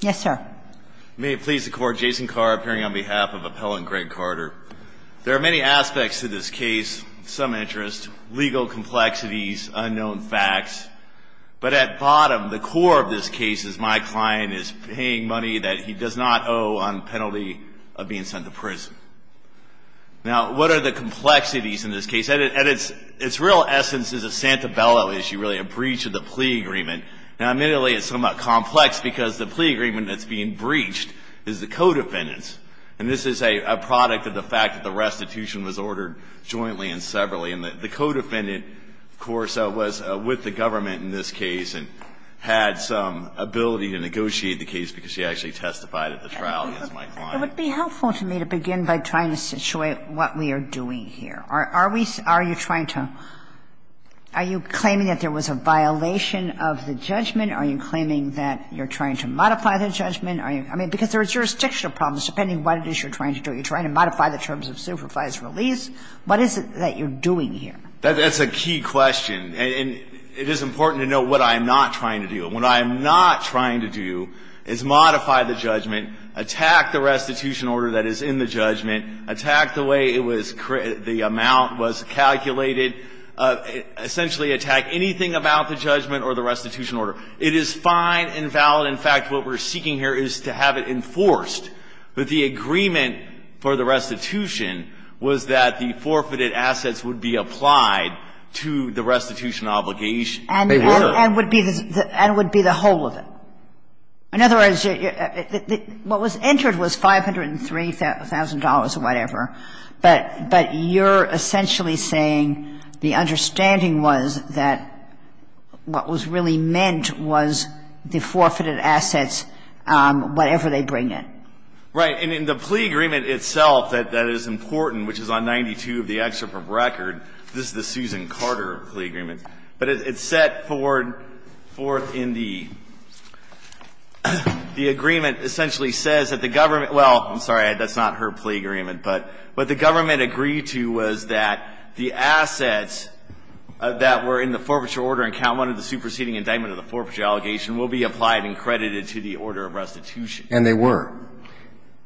Yes, sir. May it please the court, Jason Carr appearing on behalf of appellant Greg Carter. There are many aspects to this case, some interest, legal complexities, unknown facts, but at bottom, the core of this case is my client is paying money that he does not owe on penalty of being sent to prison. Now what are the complexities in this case? At its real essence is a Santabella issue, really, a breach of the plea agreement. Now, admittedly, it's somewhat complex because the plea agreement that's being breached is the co-defendant's. And this is a product of the fact that the restitution was ordered jointly and separately. And the co-defendant, of course, was with the government in this case and had some ability to negotiate the case because she actually testified at the trial against my client. Kagan It would be helpful to me to begin by trying to situate what we are doing here. Are you trying to – are you claiming that there was a violation of the judgment? Are you claiming that you're trying to modify the judgment? I mean, because there are jurisdictional problems, depending what it is you're trying to do. You're trying to modify the terms of supervised release. What is it that you're doing here? That's a key question. And it is important to know what I am not trying to do. What I am not trying to do is modify the judgment, attack the restitution order that is in the judgment, attack the way it was – the amount was calculated, essentially attack anything about the judgment or the restitution order. It is fine and valid. In fact, what we're seeking here is to have it enforced that the agreement for the restitution was that the forfeited assets would be applied to the restitution obligation. They were. And would be the whole of it. In other words, what was entered was $503,000 or whatever, but you're essentially saying the understanding was that what was really meant was the forfeited assets, whatever they bring in. Right. And in the plea agreement itself that is important, which is on 92 of the record, this is the Susan Carter plea agreement, but it's set forth in the – the agreement essentially says that the government – well, I'm sorry, that's not her plea agreement, but what the government agreed to was that the assets that were in the forfeiture order in count one of the superseding indictment of the forfeiture allegation will be applied and credited to the order of restitution. And they were.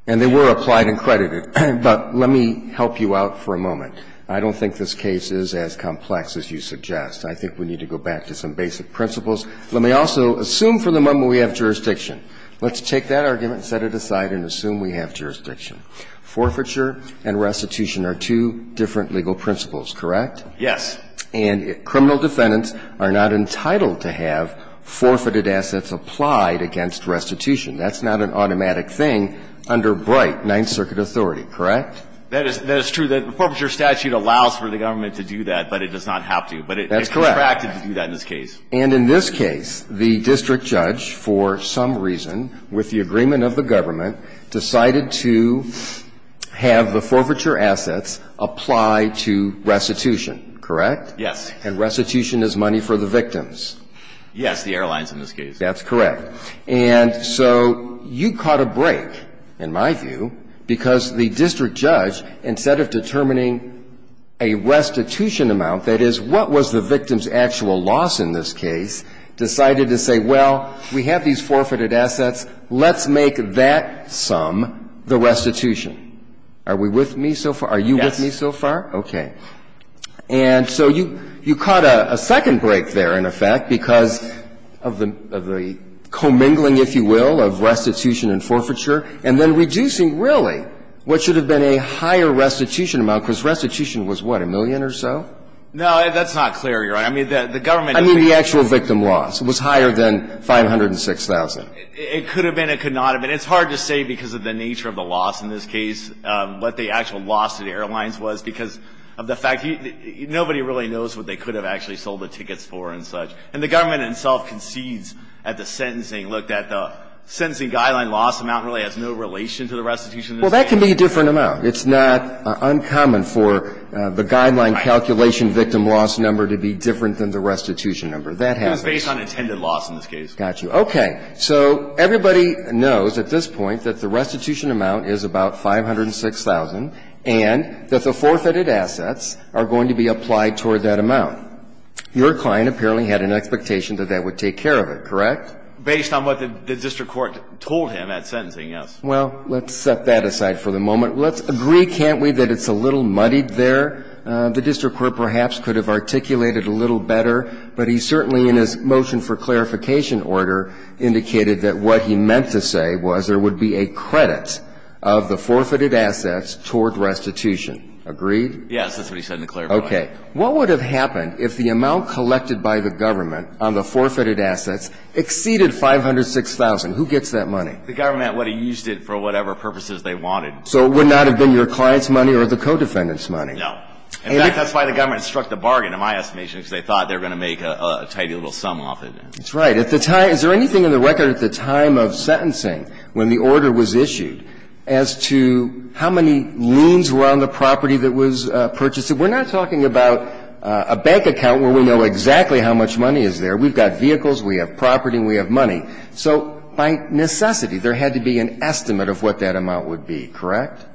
And they were applied and credited. But let me help you out for a moment. I don't think this case is as complex as you suggest. I think we need to go back to some basic principles. Let me also assume for the moment we have jurisdiction. Let's take that argument, set it aside and assume we have jurisdiction. Forfeiture and restitution are two different legal principles, correct? Yes. And criminal defendants are not entitled to have forfeited assets applied against restitution. That's not an automatic thing under Bright, Ninth Circuit authority, correct? That is – that is true. The forfeiture statute allows for the government to do that, but it does not have to. That's correct. But it's contracted to do that in this case. And in this case, the district judge, for some reason, with the agreement of the government, decided to have the forfeiture assets apply to restitution, correct? Yes. And restitution is money for the victims. Yes, the airlines in this case. That's correct. And so you caught a break, in my view, because the district judge, instead of determining a restitution amount, that is, what was the victim's actual loss in this case, decided to say, well, we have these forfeited assets, let's make that sum the restitution. Are we with me so far? Are you with me so far? Yes. Okay. And so you – you caught a second break there, in effect, because of the commingling, if you will, of restitution and forfeiture, and then reducing, really, what should have been a higher restitution amount, because restitution was, what, a million or so? No, that's not clear, Your Honor. I mean, the government – I mean the actual victim loss. It was higher than 506,000. It could have been. It could not have been. It's hard to say because of the nature of the loss in this case, what the actual loss to the airlines was because of the fact – nobody really knows what they could have actually sold the tickets for and the government itself concedes at the sentencing, look, that the sentencing guideline loss amount really has no relation to the restitution. Well, that can be a different amount. It's not uncommon for the guideline calculation victim loss number to be different than the restitution number. That happens. It was based on intended loss in this case. Got you. Okay. So everybody knows at this point that the restitution amount is about 506,000 and that the forfeited assets are going to be applied toward that amount. Your client apparently had an expectation that that would take care of it, correct? Based on what the district court told him at sentencing, yes. Well, let's set that aside for the moment. Let's agree, can't we, that it's a little muddied there? The district court perhaps could have articulated a little better, but he certainly in his motion for clarification order indicated that what he meant to say was there would be a credit of the forfeited assets toward restitution. Agreed? Yes, that's what he said in the clarification. Okay. What would have happened if the amount collected by the government on the forfeited assets exceeded 506,000? Who gets that money? The government would have used it for whatever purposes they wanted. So it would not have been your client's money or the co-defendant's money? No. In fact, that's why the government struck the bargain, in my estimation, because they thought they were going to make a tidy little sum off it. That's right. At the time, is there anything in the record at the time of sentencing when the order was issued as to how many loons were on the property that was purchased? We're not talking about a bank account where we know exactly how much money is there. We've got vehicles, we have property, and we have money. So by necessity, there had to be an estimate of what that amount would be, correct?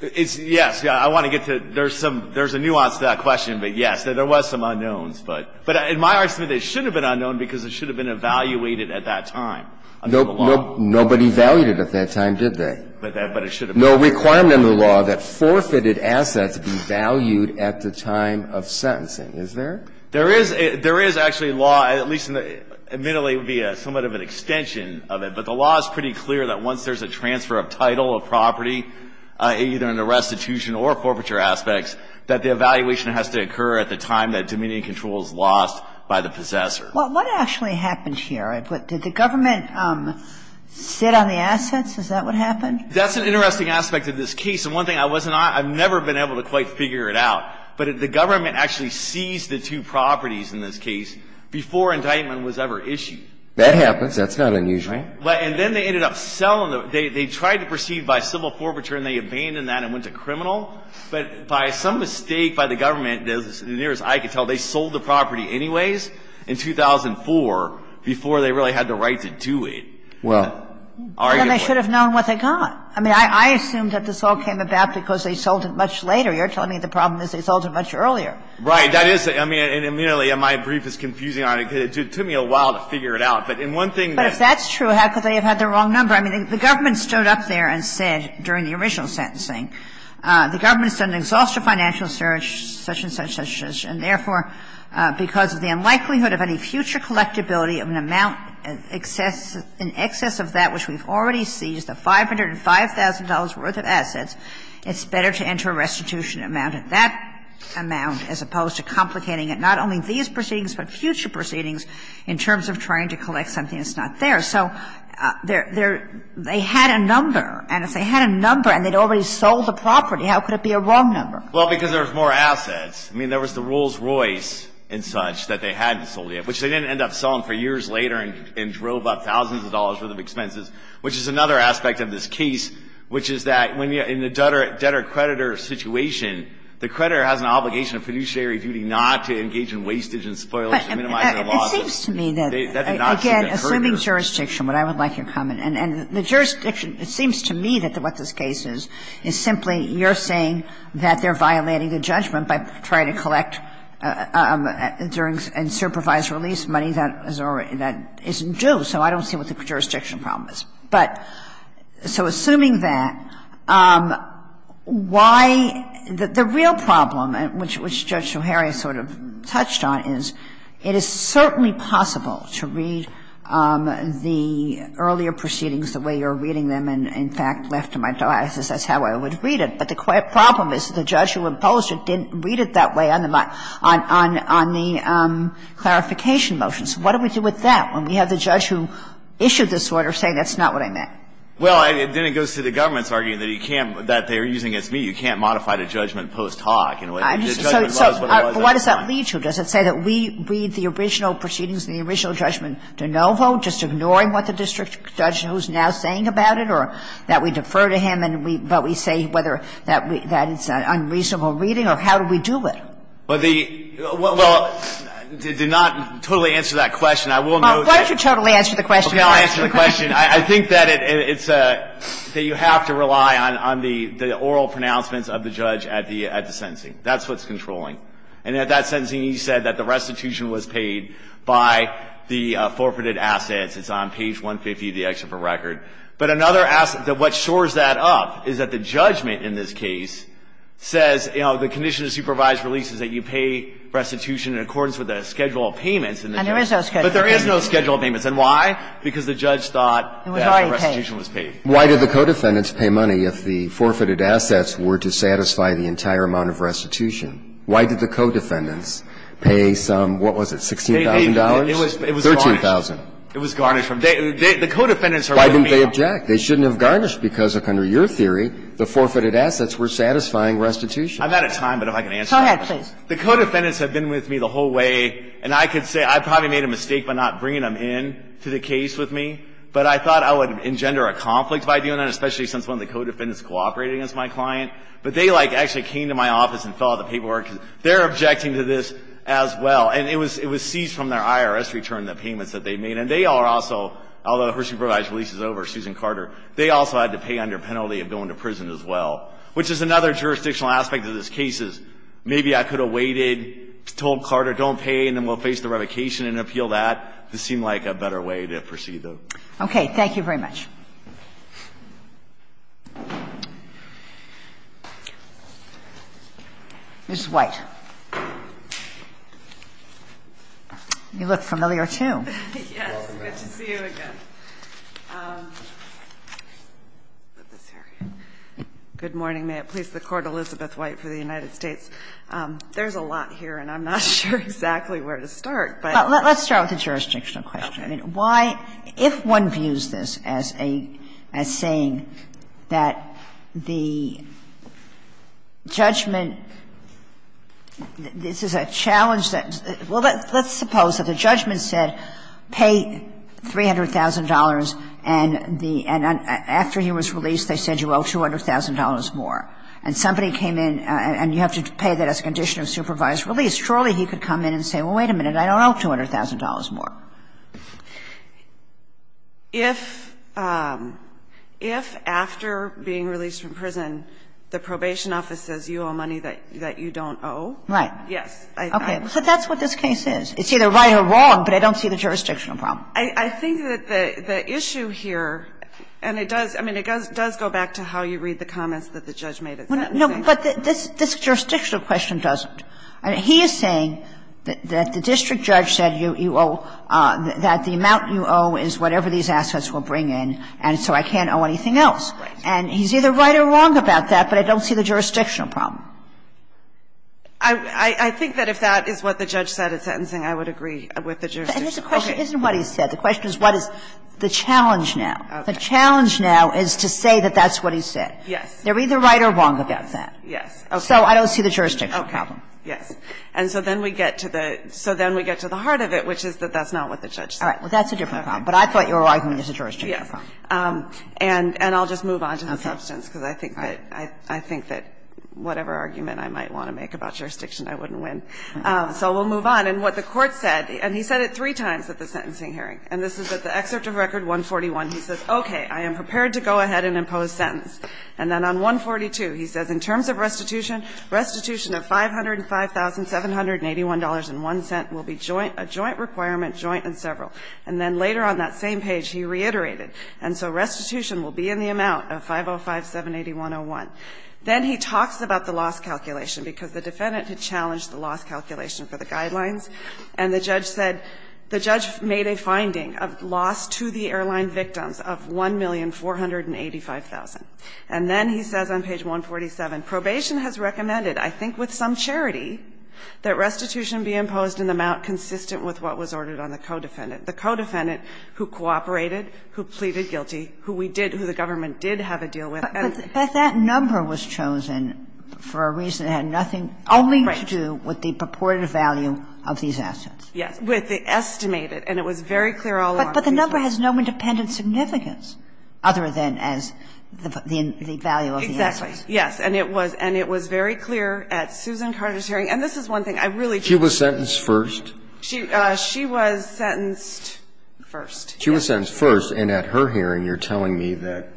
Yes. I want to get to there's some ñ there's a nuance to that question, but, yes, there was some unknowns. But in my estimate, it should have been unknown because it should have been evaluated at that time under the law. Nobody evaluated it at that time, did they? But it should have been. No requirement under the law that forfeited assets be valued at the time of sentencing. Is there? There is a ñ there is actually a law, at least in the ñ admittedly, it would be somewhat of an extension of it. But the law is pretty clear that once there's a transfer of title of property, either in the restitution or forfeiture aspects, that the evaluation has to occur at the time that dominion and control is lost by the possessor. Well, what actually happened here? Did the government sit on the assets? Is that what happened? That's an interesting aspect of this case. And one thing I wasn't ñ I've never been able to quite figure it out. But the government actually seized the two properties in this case before indictment was ever issued. That happens. That's not unusual. Right. And then they ended up selling them. They tried to proceed by civil forfeiture, and they abandoned that and went to criminal. But by some mistake by the government, as near as I could tell, they sold the property anyways in 2004 before they really had the right to do it. Well. And they should have known what they got. I mean, I assumed that this all came about because they sold it much later. You're telling me the problem is they sold it much earlier. Right. That is ñ I mean, and, you know, my brief is confusing. It took me a while to figure it out. But in one thing ñ But if that's true, how could they have had the wrong number? I mean, the government stood up there and said, during the original sentencing, the government has done an exhaustive financial search, such and such, such and such, and therefore, because of the unlikelihood of any future collectability of an amount in excess of that which we've already seized, a $505,000 worth of assets, it's better to enter a restitution amount at that amount as opposed to complicating it, not only these proceedings, but future proceedings, in terms of trying to collect something that's not theirs. So they're ñ they had a number, and if they had a number and they'd already sold the property, how could it be a wrong number? Well, because there was more assets. I mean, there was the Rolls-Royce and such that they hadn't sold yet, which they didn't end up selling for years later and drove up thousands of dollars' worth of expenses, which is another aspect of this case, which is that when you ñ in the debtor-creditor situation, the creditor has an obligation of fiduciary duty not to engage in wastage and spoilage to minimize their losses. That did not seem to occur to them. But it seems to me that, again, assuming jurisdiction, what I would like your comment ñ and the jurisdiction ñ it seems to me that what this case is, is simply you're saying that they're violating the judgment by trying to collect during ñ and supervise release money that is already ñ that isn't due. So I don't see what the jurisdiction problem is. But so assuming that, why ñ the real problem, which Judge O'Hara sort of touched on, is it is certainly possible to read the earlier proceedings the way you're reading them and, in fact, left to my diocese, that's how I would read it. But the problem is the judge who imposed it didn't read it that way on the ñ on the clarification motions. What do we do with that when we have the judge who issued this order saying that's not what I meant? Well, then it goes to the government's argument that you can't ñ that they're using it as meat. You can't modify the judgment post-talk in a way that the judgment was what it was at the time. So why does that lead to? Does it say that we read the original proceedings and the original judgment de novo, just ignoring what the district judge who's now saying about it, or that we defer to him and we ñ but we say whether that we ñ that it's an unreasonable reading, or how do we do it? Well, the ñ well, to not totally answer that question, I will note that ñ Well, why don't you totally answer the question? Okay, I'll answer the question. I think that it's a ñ that you have to rely on the ñ the oral pronouncements of the judge at the ñ at the sentencing. That's what's controlling. And at that sentencing, he said that the restitution was paid by the forfeited assets. It's on page 150 of the excerpt for record. But another ñ what shores that up is that the judgment in this case says, you know, the condition of supervised release is that you pay restitution in accordance with the schedule of payments in the case. And there is no schedule of payments. But there is no schedule of payments. And why? Because the judge thought that the restitution was paid. Why did the co-defendants pay money if the forfeited assets were to satisfy the entire amount of restitution? Why did the co-defendants pay some ñ what was it, $16,000? It was ñ it was ñ $13,000. It was garnished from ñ the co-defendants are willing to pay. Why didn't they object? They shouldn't have garnished because, under your theory, the forfeited assets were satisfying restitution. I'm out of time, but if I can answer that. Go ahead, please. The co-defendants have been with me the whole way. And I could say I probably made a mistake by not bringing them in to the case with me. But I thought I would engender a conflict by doing that, especially since one of the co-defendants cooperated against my client. But they, like, actually came to my office and filled out the paperwork. They're objecting to this as well. And it was seized from their IRS return, the payments that they made. And they are also, although Hershey provides releases over Susan Carter, they also had to pay under penalty of going to prison as well, which is another jurisdictional aspect of this case is maybe I could have waited, told Carter, don't pay, and then we'll face the revocation and appeal that. This seemed like a better way to proceed, though. Okay. Thank you very much. Ms. White. You look familiar, too. Welcome back. Good to see you again. Good morning. May it please the Court, Elizabeth White for the United States. There's a lot here, and I'm not sure exactly where to start, but. But let's start with the jurisdictional question. I mean, why – if one views this as a – as saying that the judgment – this is a challenge that – well, let's suppose that the judgment said, pay $300,000, and the – and after he was released, they said you owe $200,000 more. And somebody came in, and you have to pay that as a condition of supervised release. Surely he could come in and say, well, wait a minute, I don't owe $200,000 more. If – if after being released from prison, the probation office says you owe money that you don't owe. Right. Yes. Okay. So that's what this case is. It's either right or wrong, but I don't see the jurisdictional problem. I think that the issue here – and it does – I mean, it does go back to how you read the comments that the judge made at that meeting. No, but this jurisdictional question doesn't. He is saying that the district judge said you owe – that the amount you owe is whatever these assets will bring in, and so I can't owe anything else. Right. And he's either right or wrong about that, but I don't see the jurisdictional problem. I think that if that is what the judge said at sentencing, I would agree with the jurisdictional. Okay. And it's a question – it isn't what he said. The question is what is the challenge now. The challenge now is to say that that's what he said. Yes. They're either right or wrong about that. Yes. Okay. So I don't see the jurisdictional problem. Okay. Yes. And so then we get to the – so then we get to the heart of it, which is that that's not what the judge said. All right. Well, that's a different problem. But I thought your argument was a jurisdictional problem. Yes. And I'll just move on to the substance, because I think that – I think that whatever argument I might want to make about jurisdiction, I wouldn't win. So we'll move on. And what the Court said – and he said it three times at the sentencing hearing. And this is at the excerpt of Record 141. He says, okay, I am prepared to go ahead and impose sentence. And then on 142, he says, in terms of restitution, restitution of $505,781.01 will be a joint requirement, joint and several. And then later on that same page, he reiterated. And so restitution will be in the amount of 505,781.01. Then he talks about the loss calculation, because the defendant had challenged the loss calculation for the guidelines. And the judge said – the judge made a finding of loss to the airline victims of 1,485,000. And then he says on page 147, Probation has recommended, I think with some charity, that restitution be imposed in the amount consistent with what was ordered on the co-defendant. The co-defendant who cooperated, who pleaded guilty, who we did – who the government did have a deal with. Ginsburg. But that number was chosen for a reason that had nothing to do with the purported value of these assets. Yes. With the estimated. And it was very clear all along. But the number has no independent significance, other than as the value of the assets. Exactly, yes. And it was – and it was very clear at Susan Carter's hearing. And this is one thing I really do agree with. She was sentenced first? She was sentenced first, yes. She was sentenced first. And at her hearing, you're telling me that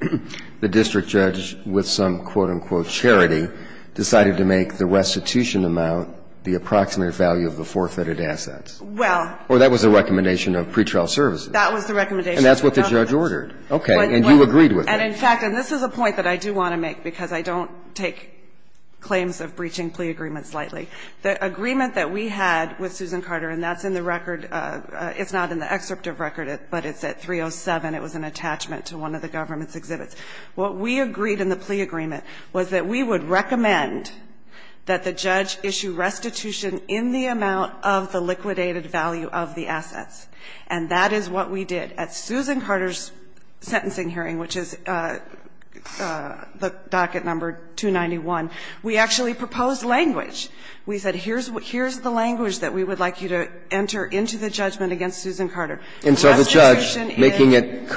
the district judge, with some, quote-unquote, charity, decided to make the restitution amount the approximate value of the forfeited assets. Well. Or that was the recommendation of pretrial services. That was the recommendation. And that's what the judge ordered. Okay. And you agreed with that. And in fact, and this is a point that I do want to make, because I don't take claims of breaching plea agreements lightly. The agreement that we had with Susan Carter, and that's in the record – it's not in the excerpt of record, but it's at 307. It was an attachment to one of the government's exhibits. What we agreed in the plea agreement was that we would recommend that the judge issue restitution in the amount of the liquidated value of the assets. And that is what we did. At Susan Carter's sentencing hearing, which is the docket number 291, we actually proposed language. We said, here's the language that we would like you to enter into the judgment against Susan Carter. And so the judge, making it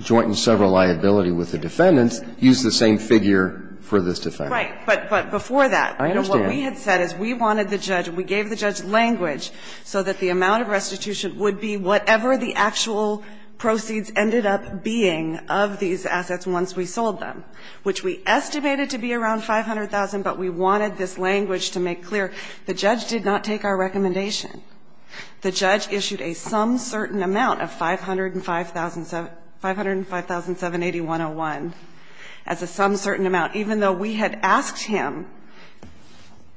joint and several liability with the defendants, used the same figure for this defendant. Right. But before that, you know, what we had said is we wanted the judge, we gave the judge language so that the amount of restitution would be whatever the actual proceeds ended up being of these assets once we sold them, which we estimated to be around 500,000, but we wanted this language to make clear the judge did not take our recommendation. The judge issued a some certain amount of 505,000 75,780,101 as a some certain amount, even though we had asked him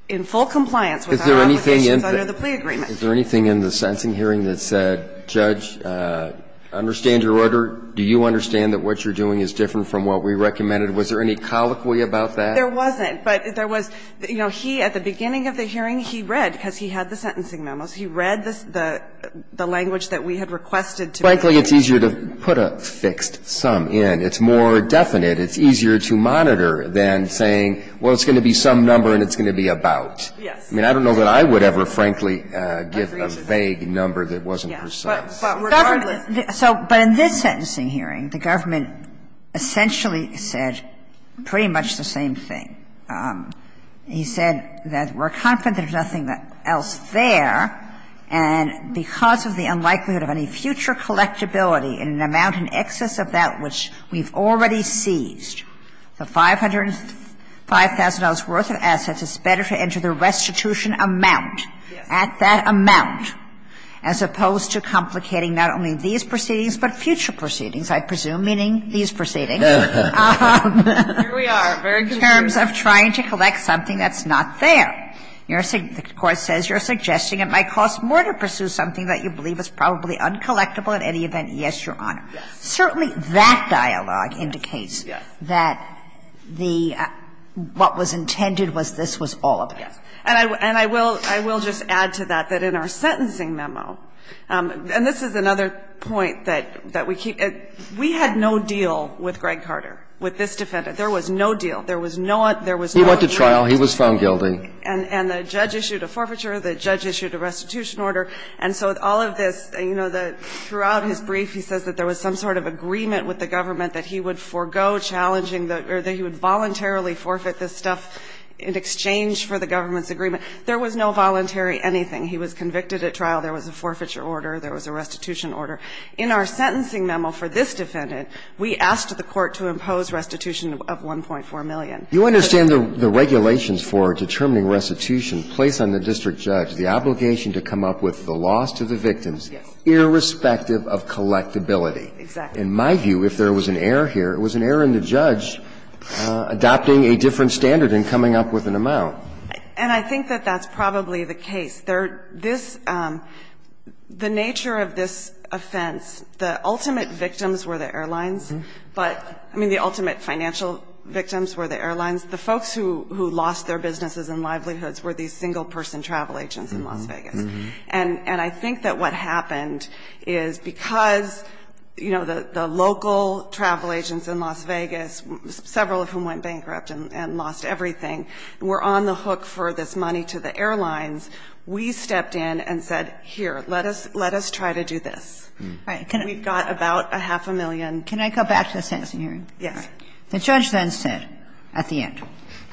in full compliance with our obligations under the plea agreement. Is there anything in the sentencing hearing that said, Judge, I understand your order. Do you understand that what you're doing is different from what we recommended? Was there any colloquy about that? There wasn't. But there was, you know, he, at the beginning of the hearing, he read, because he had the sentencing memos, he read the language that we had requested to make. Frankly, it's easier to put a fixed sum in. It's more definite. It's easier to monitor than saying, well, it's going to be some number and it's going to be about. Yes. I mean, I don't know that I would ever, frankly, give a vague number that wasn't precise. But regardless. So, but in this sentencing hearing, the government essentially said pretty much the same thing. He said that we're confident there's nothing else there, and because of the unlikelihood of any future collectability in an amount in excess of that which we've already seized, the $500,000 worth of assets, it's better to enter the restitution amount at that amount, as opposed to complicating not only these proceedings, but future proceedings, I presume, meaning these proceedings. And I think that's a very good point, Your Honor, in terms of trying to collect something that's not there. The court says you're suggesting it might cost more to pursue something that you believe is probably uncollectable in any event. Yes, Your Honor. Certainly that dialogue indicates that the what was intended was this was all of it. And I will just add to that, that in our sentencing memo, and this is another point that we keep at, we had no deal with Greg Carter, with this defendant. There was no deal. There was no, there was no deal. He went to trial. He was found guilty. And the judge issued a forfeiture. The judge issued a restitution order. And so all of this, you know, throughout his brief, he says that there was some sort of agreement with the government that he would forego challenging the or that he would voluntarily forfeit this stuff in exchange for the government's agreement. There was no voluntary anything. He was convicted at trial. There was a forfeiture order. There was a restitution order. In our sentencing memo for this defendant, we asked the Court to impose restitution of $1.4 million. You understand the regulations for determining restitution place on the district judge the obligation to come up with the loss to the victims, irrespective of collectability. Exactly. In my view, if there was an error here, it was an error in the judge adopting a different standard and coming up with an amount. And I think that that's probably the case. The nature of this offense, the ultimate victims were the airlines, but, I mean, the ultimate financial victims were the airlines. The folks who lost their businesses and livelihoods were these single-person travel agents in Las Vegas. And I think that what happened is because, you know, the local travel agents in Las Vegas, several of whom went bankrupt and lost everything, were on the hook for this money to the airlines, we stepped in and said, here, let us try to do this. We've got about a half a million. Can I go back to the sentencing hearing? Yes. The judge then said at the end,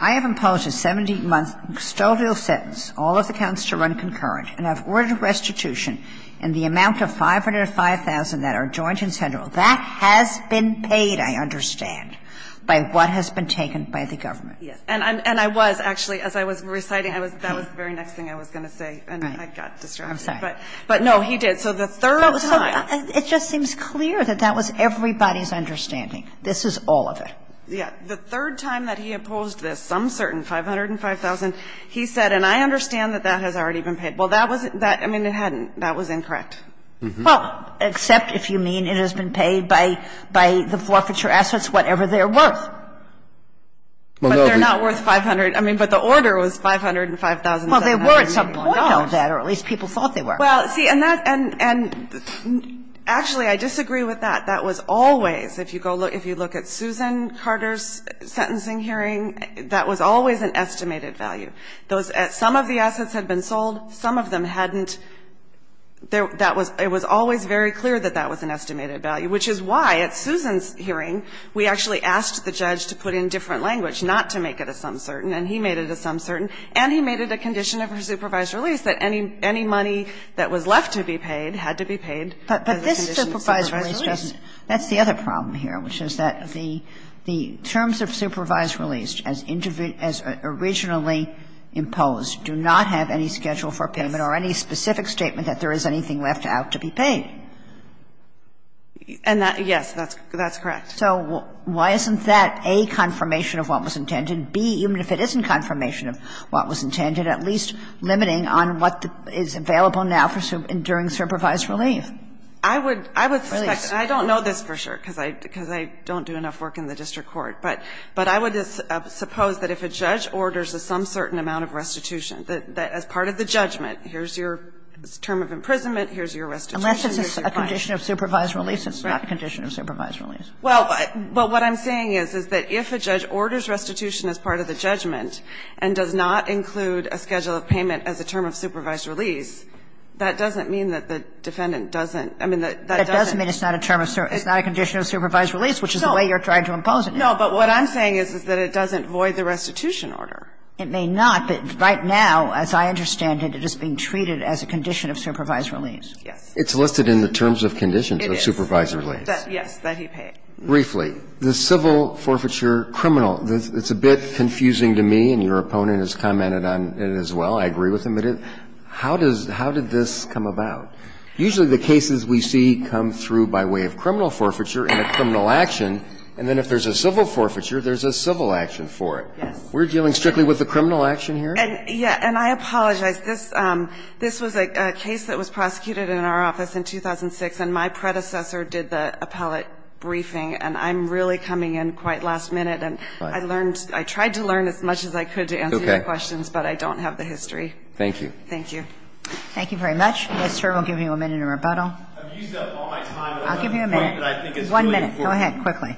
I have imposed a 70-month custodial sentence, all of the counts to run concurrent, and I've ordered restitution in the amount of $505,000 that are joint and central. That has been paid, I understand, by what has been taken by the government. And I was actually, as I was reciting, that was the very next thing I was going to say, and I got distracted. But, no, he did. So the third time. It just seems clear that that was everybody's understanding. This is all of it. Yes. The third time that he imposed this, some certain $505,000, he said, and I understand that that has already been paid. Well, that was that, I mean, it hadn't. That was incorrect. Well, except if you mean it has been paid by the forfeiture assets, whatever they're worth. But they're not worth $500,000. I mean, but the order was $505,700. Well, they were at some point. No. Or at least people thought they were. Well, see, and that's and actually I disagree with that. That was always, if you go look, if you look at Susan Carter's sentencing hearing, that was always an estimated value. Those, some of the assets had been sold, some of them hadn't. That was, it was always very clear that that was an estimated value, which is why at Susan's hearing, we actually asked the judge to put in different language, not to make it a sum certain, and he made it a sum certain, and he made it a condition of her supervised release that any money that was left to be paid had to be paid as a condition of supervised release. But this supervised release doesn't. That's the other problem here, which is that the terms of supervised release as originally imposed do not have any schedule for payment or any specific statement that there is anything left out to be paid. And that, yes, that's correct. So why isn't that, A, confirmation of what was intended, B, even if it isn't confirmation of what was intended, at least limiting on what is available now for enduring supervised relief? I would suspect, and I don't know this for sure because I don't do enough work in the district court, but I would suppose that if a judge orders a sum certain amount of restitution as part of the judgment, here's your term of imprisonment, here's your restitution, here's your fine. Unless it's a condition of supervised release, it's not a condition of supervised release. Well, but what I'm saying is, is that if a judge orders restitution as part of the judgment and does not include a schedule of payment as a term of supervised release, that doesn't mean that the defendant doesn't – I mean, that doesn't mean it's not a term of – it's not a condition of supervised release, which is the way you're trying to impose it. No, but what I'm saying is, is that it doesn't void the restitution order. It may not, but right now, as I understand it, it is being treated as a condition of supervised release. Yes. It's listed in the terms of conditions of supervised release. It is. Yes, that he paid. Briefly, the civil forfeiture criminal, it's a bit confusing to me, and your opponent has commented on it as well. I agree with him. But how does – how did this come about? Usually the cases we see come through by way of criminal forfeiture and a criminal action, and then if there's a civil forfeiture, there's a civil action for it. Yes. We're dealing strictly with the criminal action here? And, yes, and I apologize. This was a case that was prosecuted in our office in 2006, and my predecessor did the appellate briefing, and I'm really coming in quite last minute. And I learned – I tried to learn as much as I could to answer your questions, but I don't have the history. Thank you. Thank you. Thank you very much. Mr. Ehrl will give you a minute in rebuttal. I've used up all my time. I'll give you a minute. One minute. Go ahead, quickly.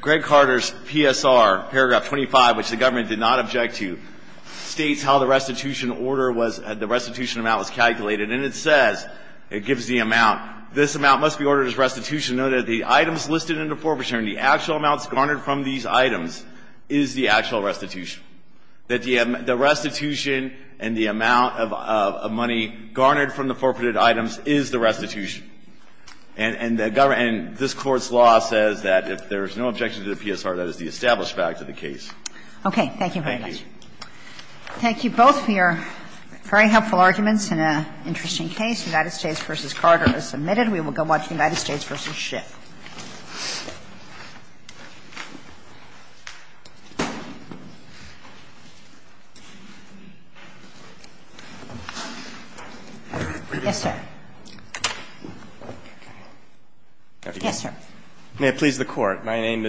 Greg Carter's PSR, paragraph 25, which the government did not object to, states how the restitution order was – the restitution amount was calculated, and it says – it gives the amount. This amount must be ordered as restitution, note that the items listed in the forfeiture and the actual amounts garnered from these items is the actual restitution. That the restitution and the amount of money garnered from the forfeited items is the restitution. And the government – and this Court's law says that if there's no objection to the PSR, that is the established fact of the case. Okay. Thank you very much. Thank you. Thank you both for your very helpful arguments in an interesting case. United States v. Carter is submitted. We will go watch United States v. Schiff. Yes, sir. May it please the Court.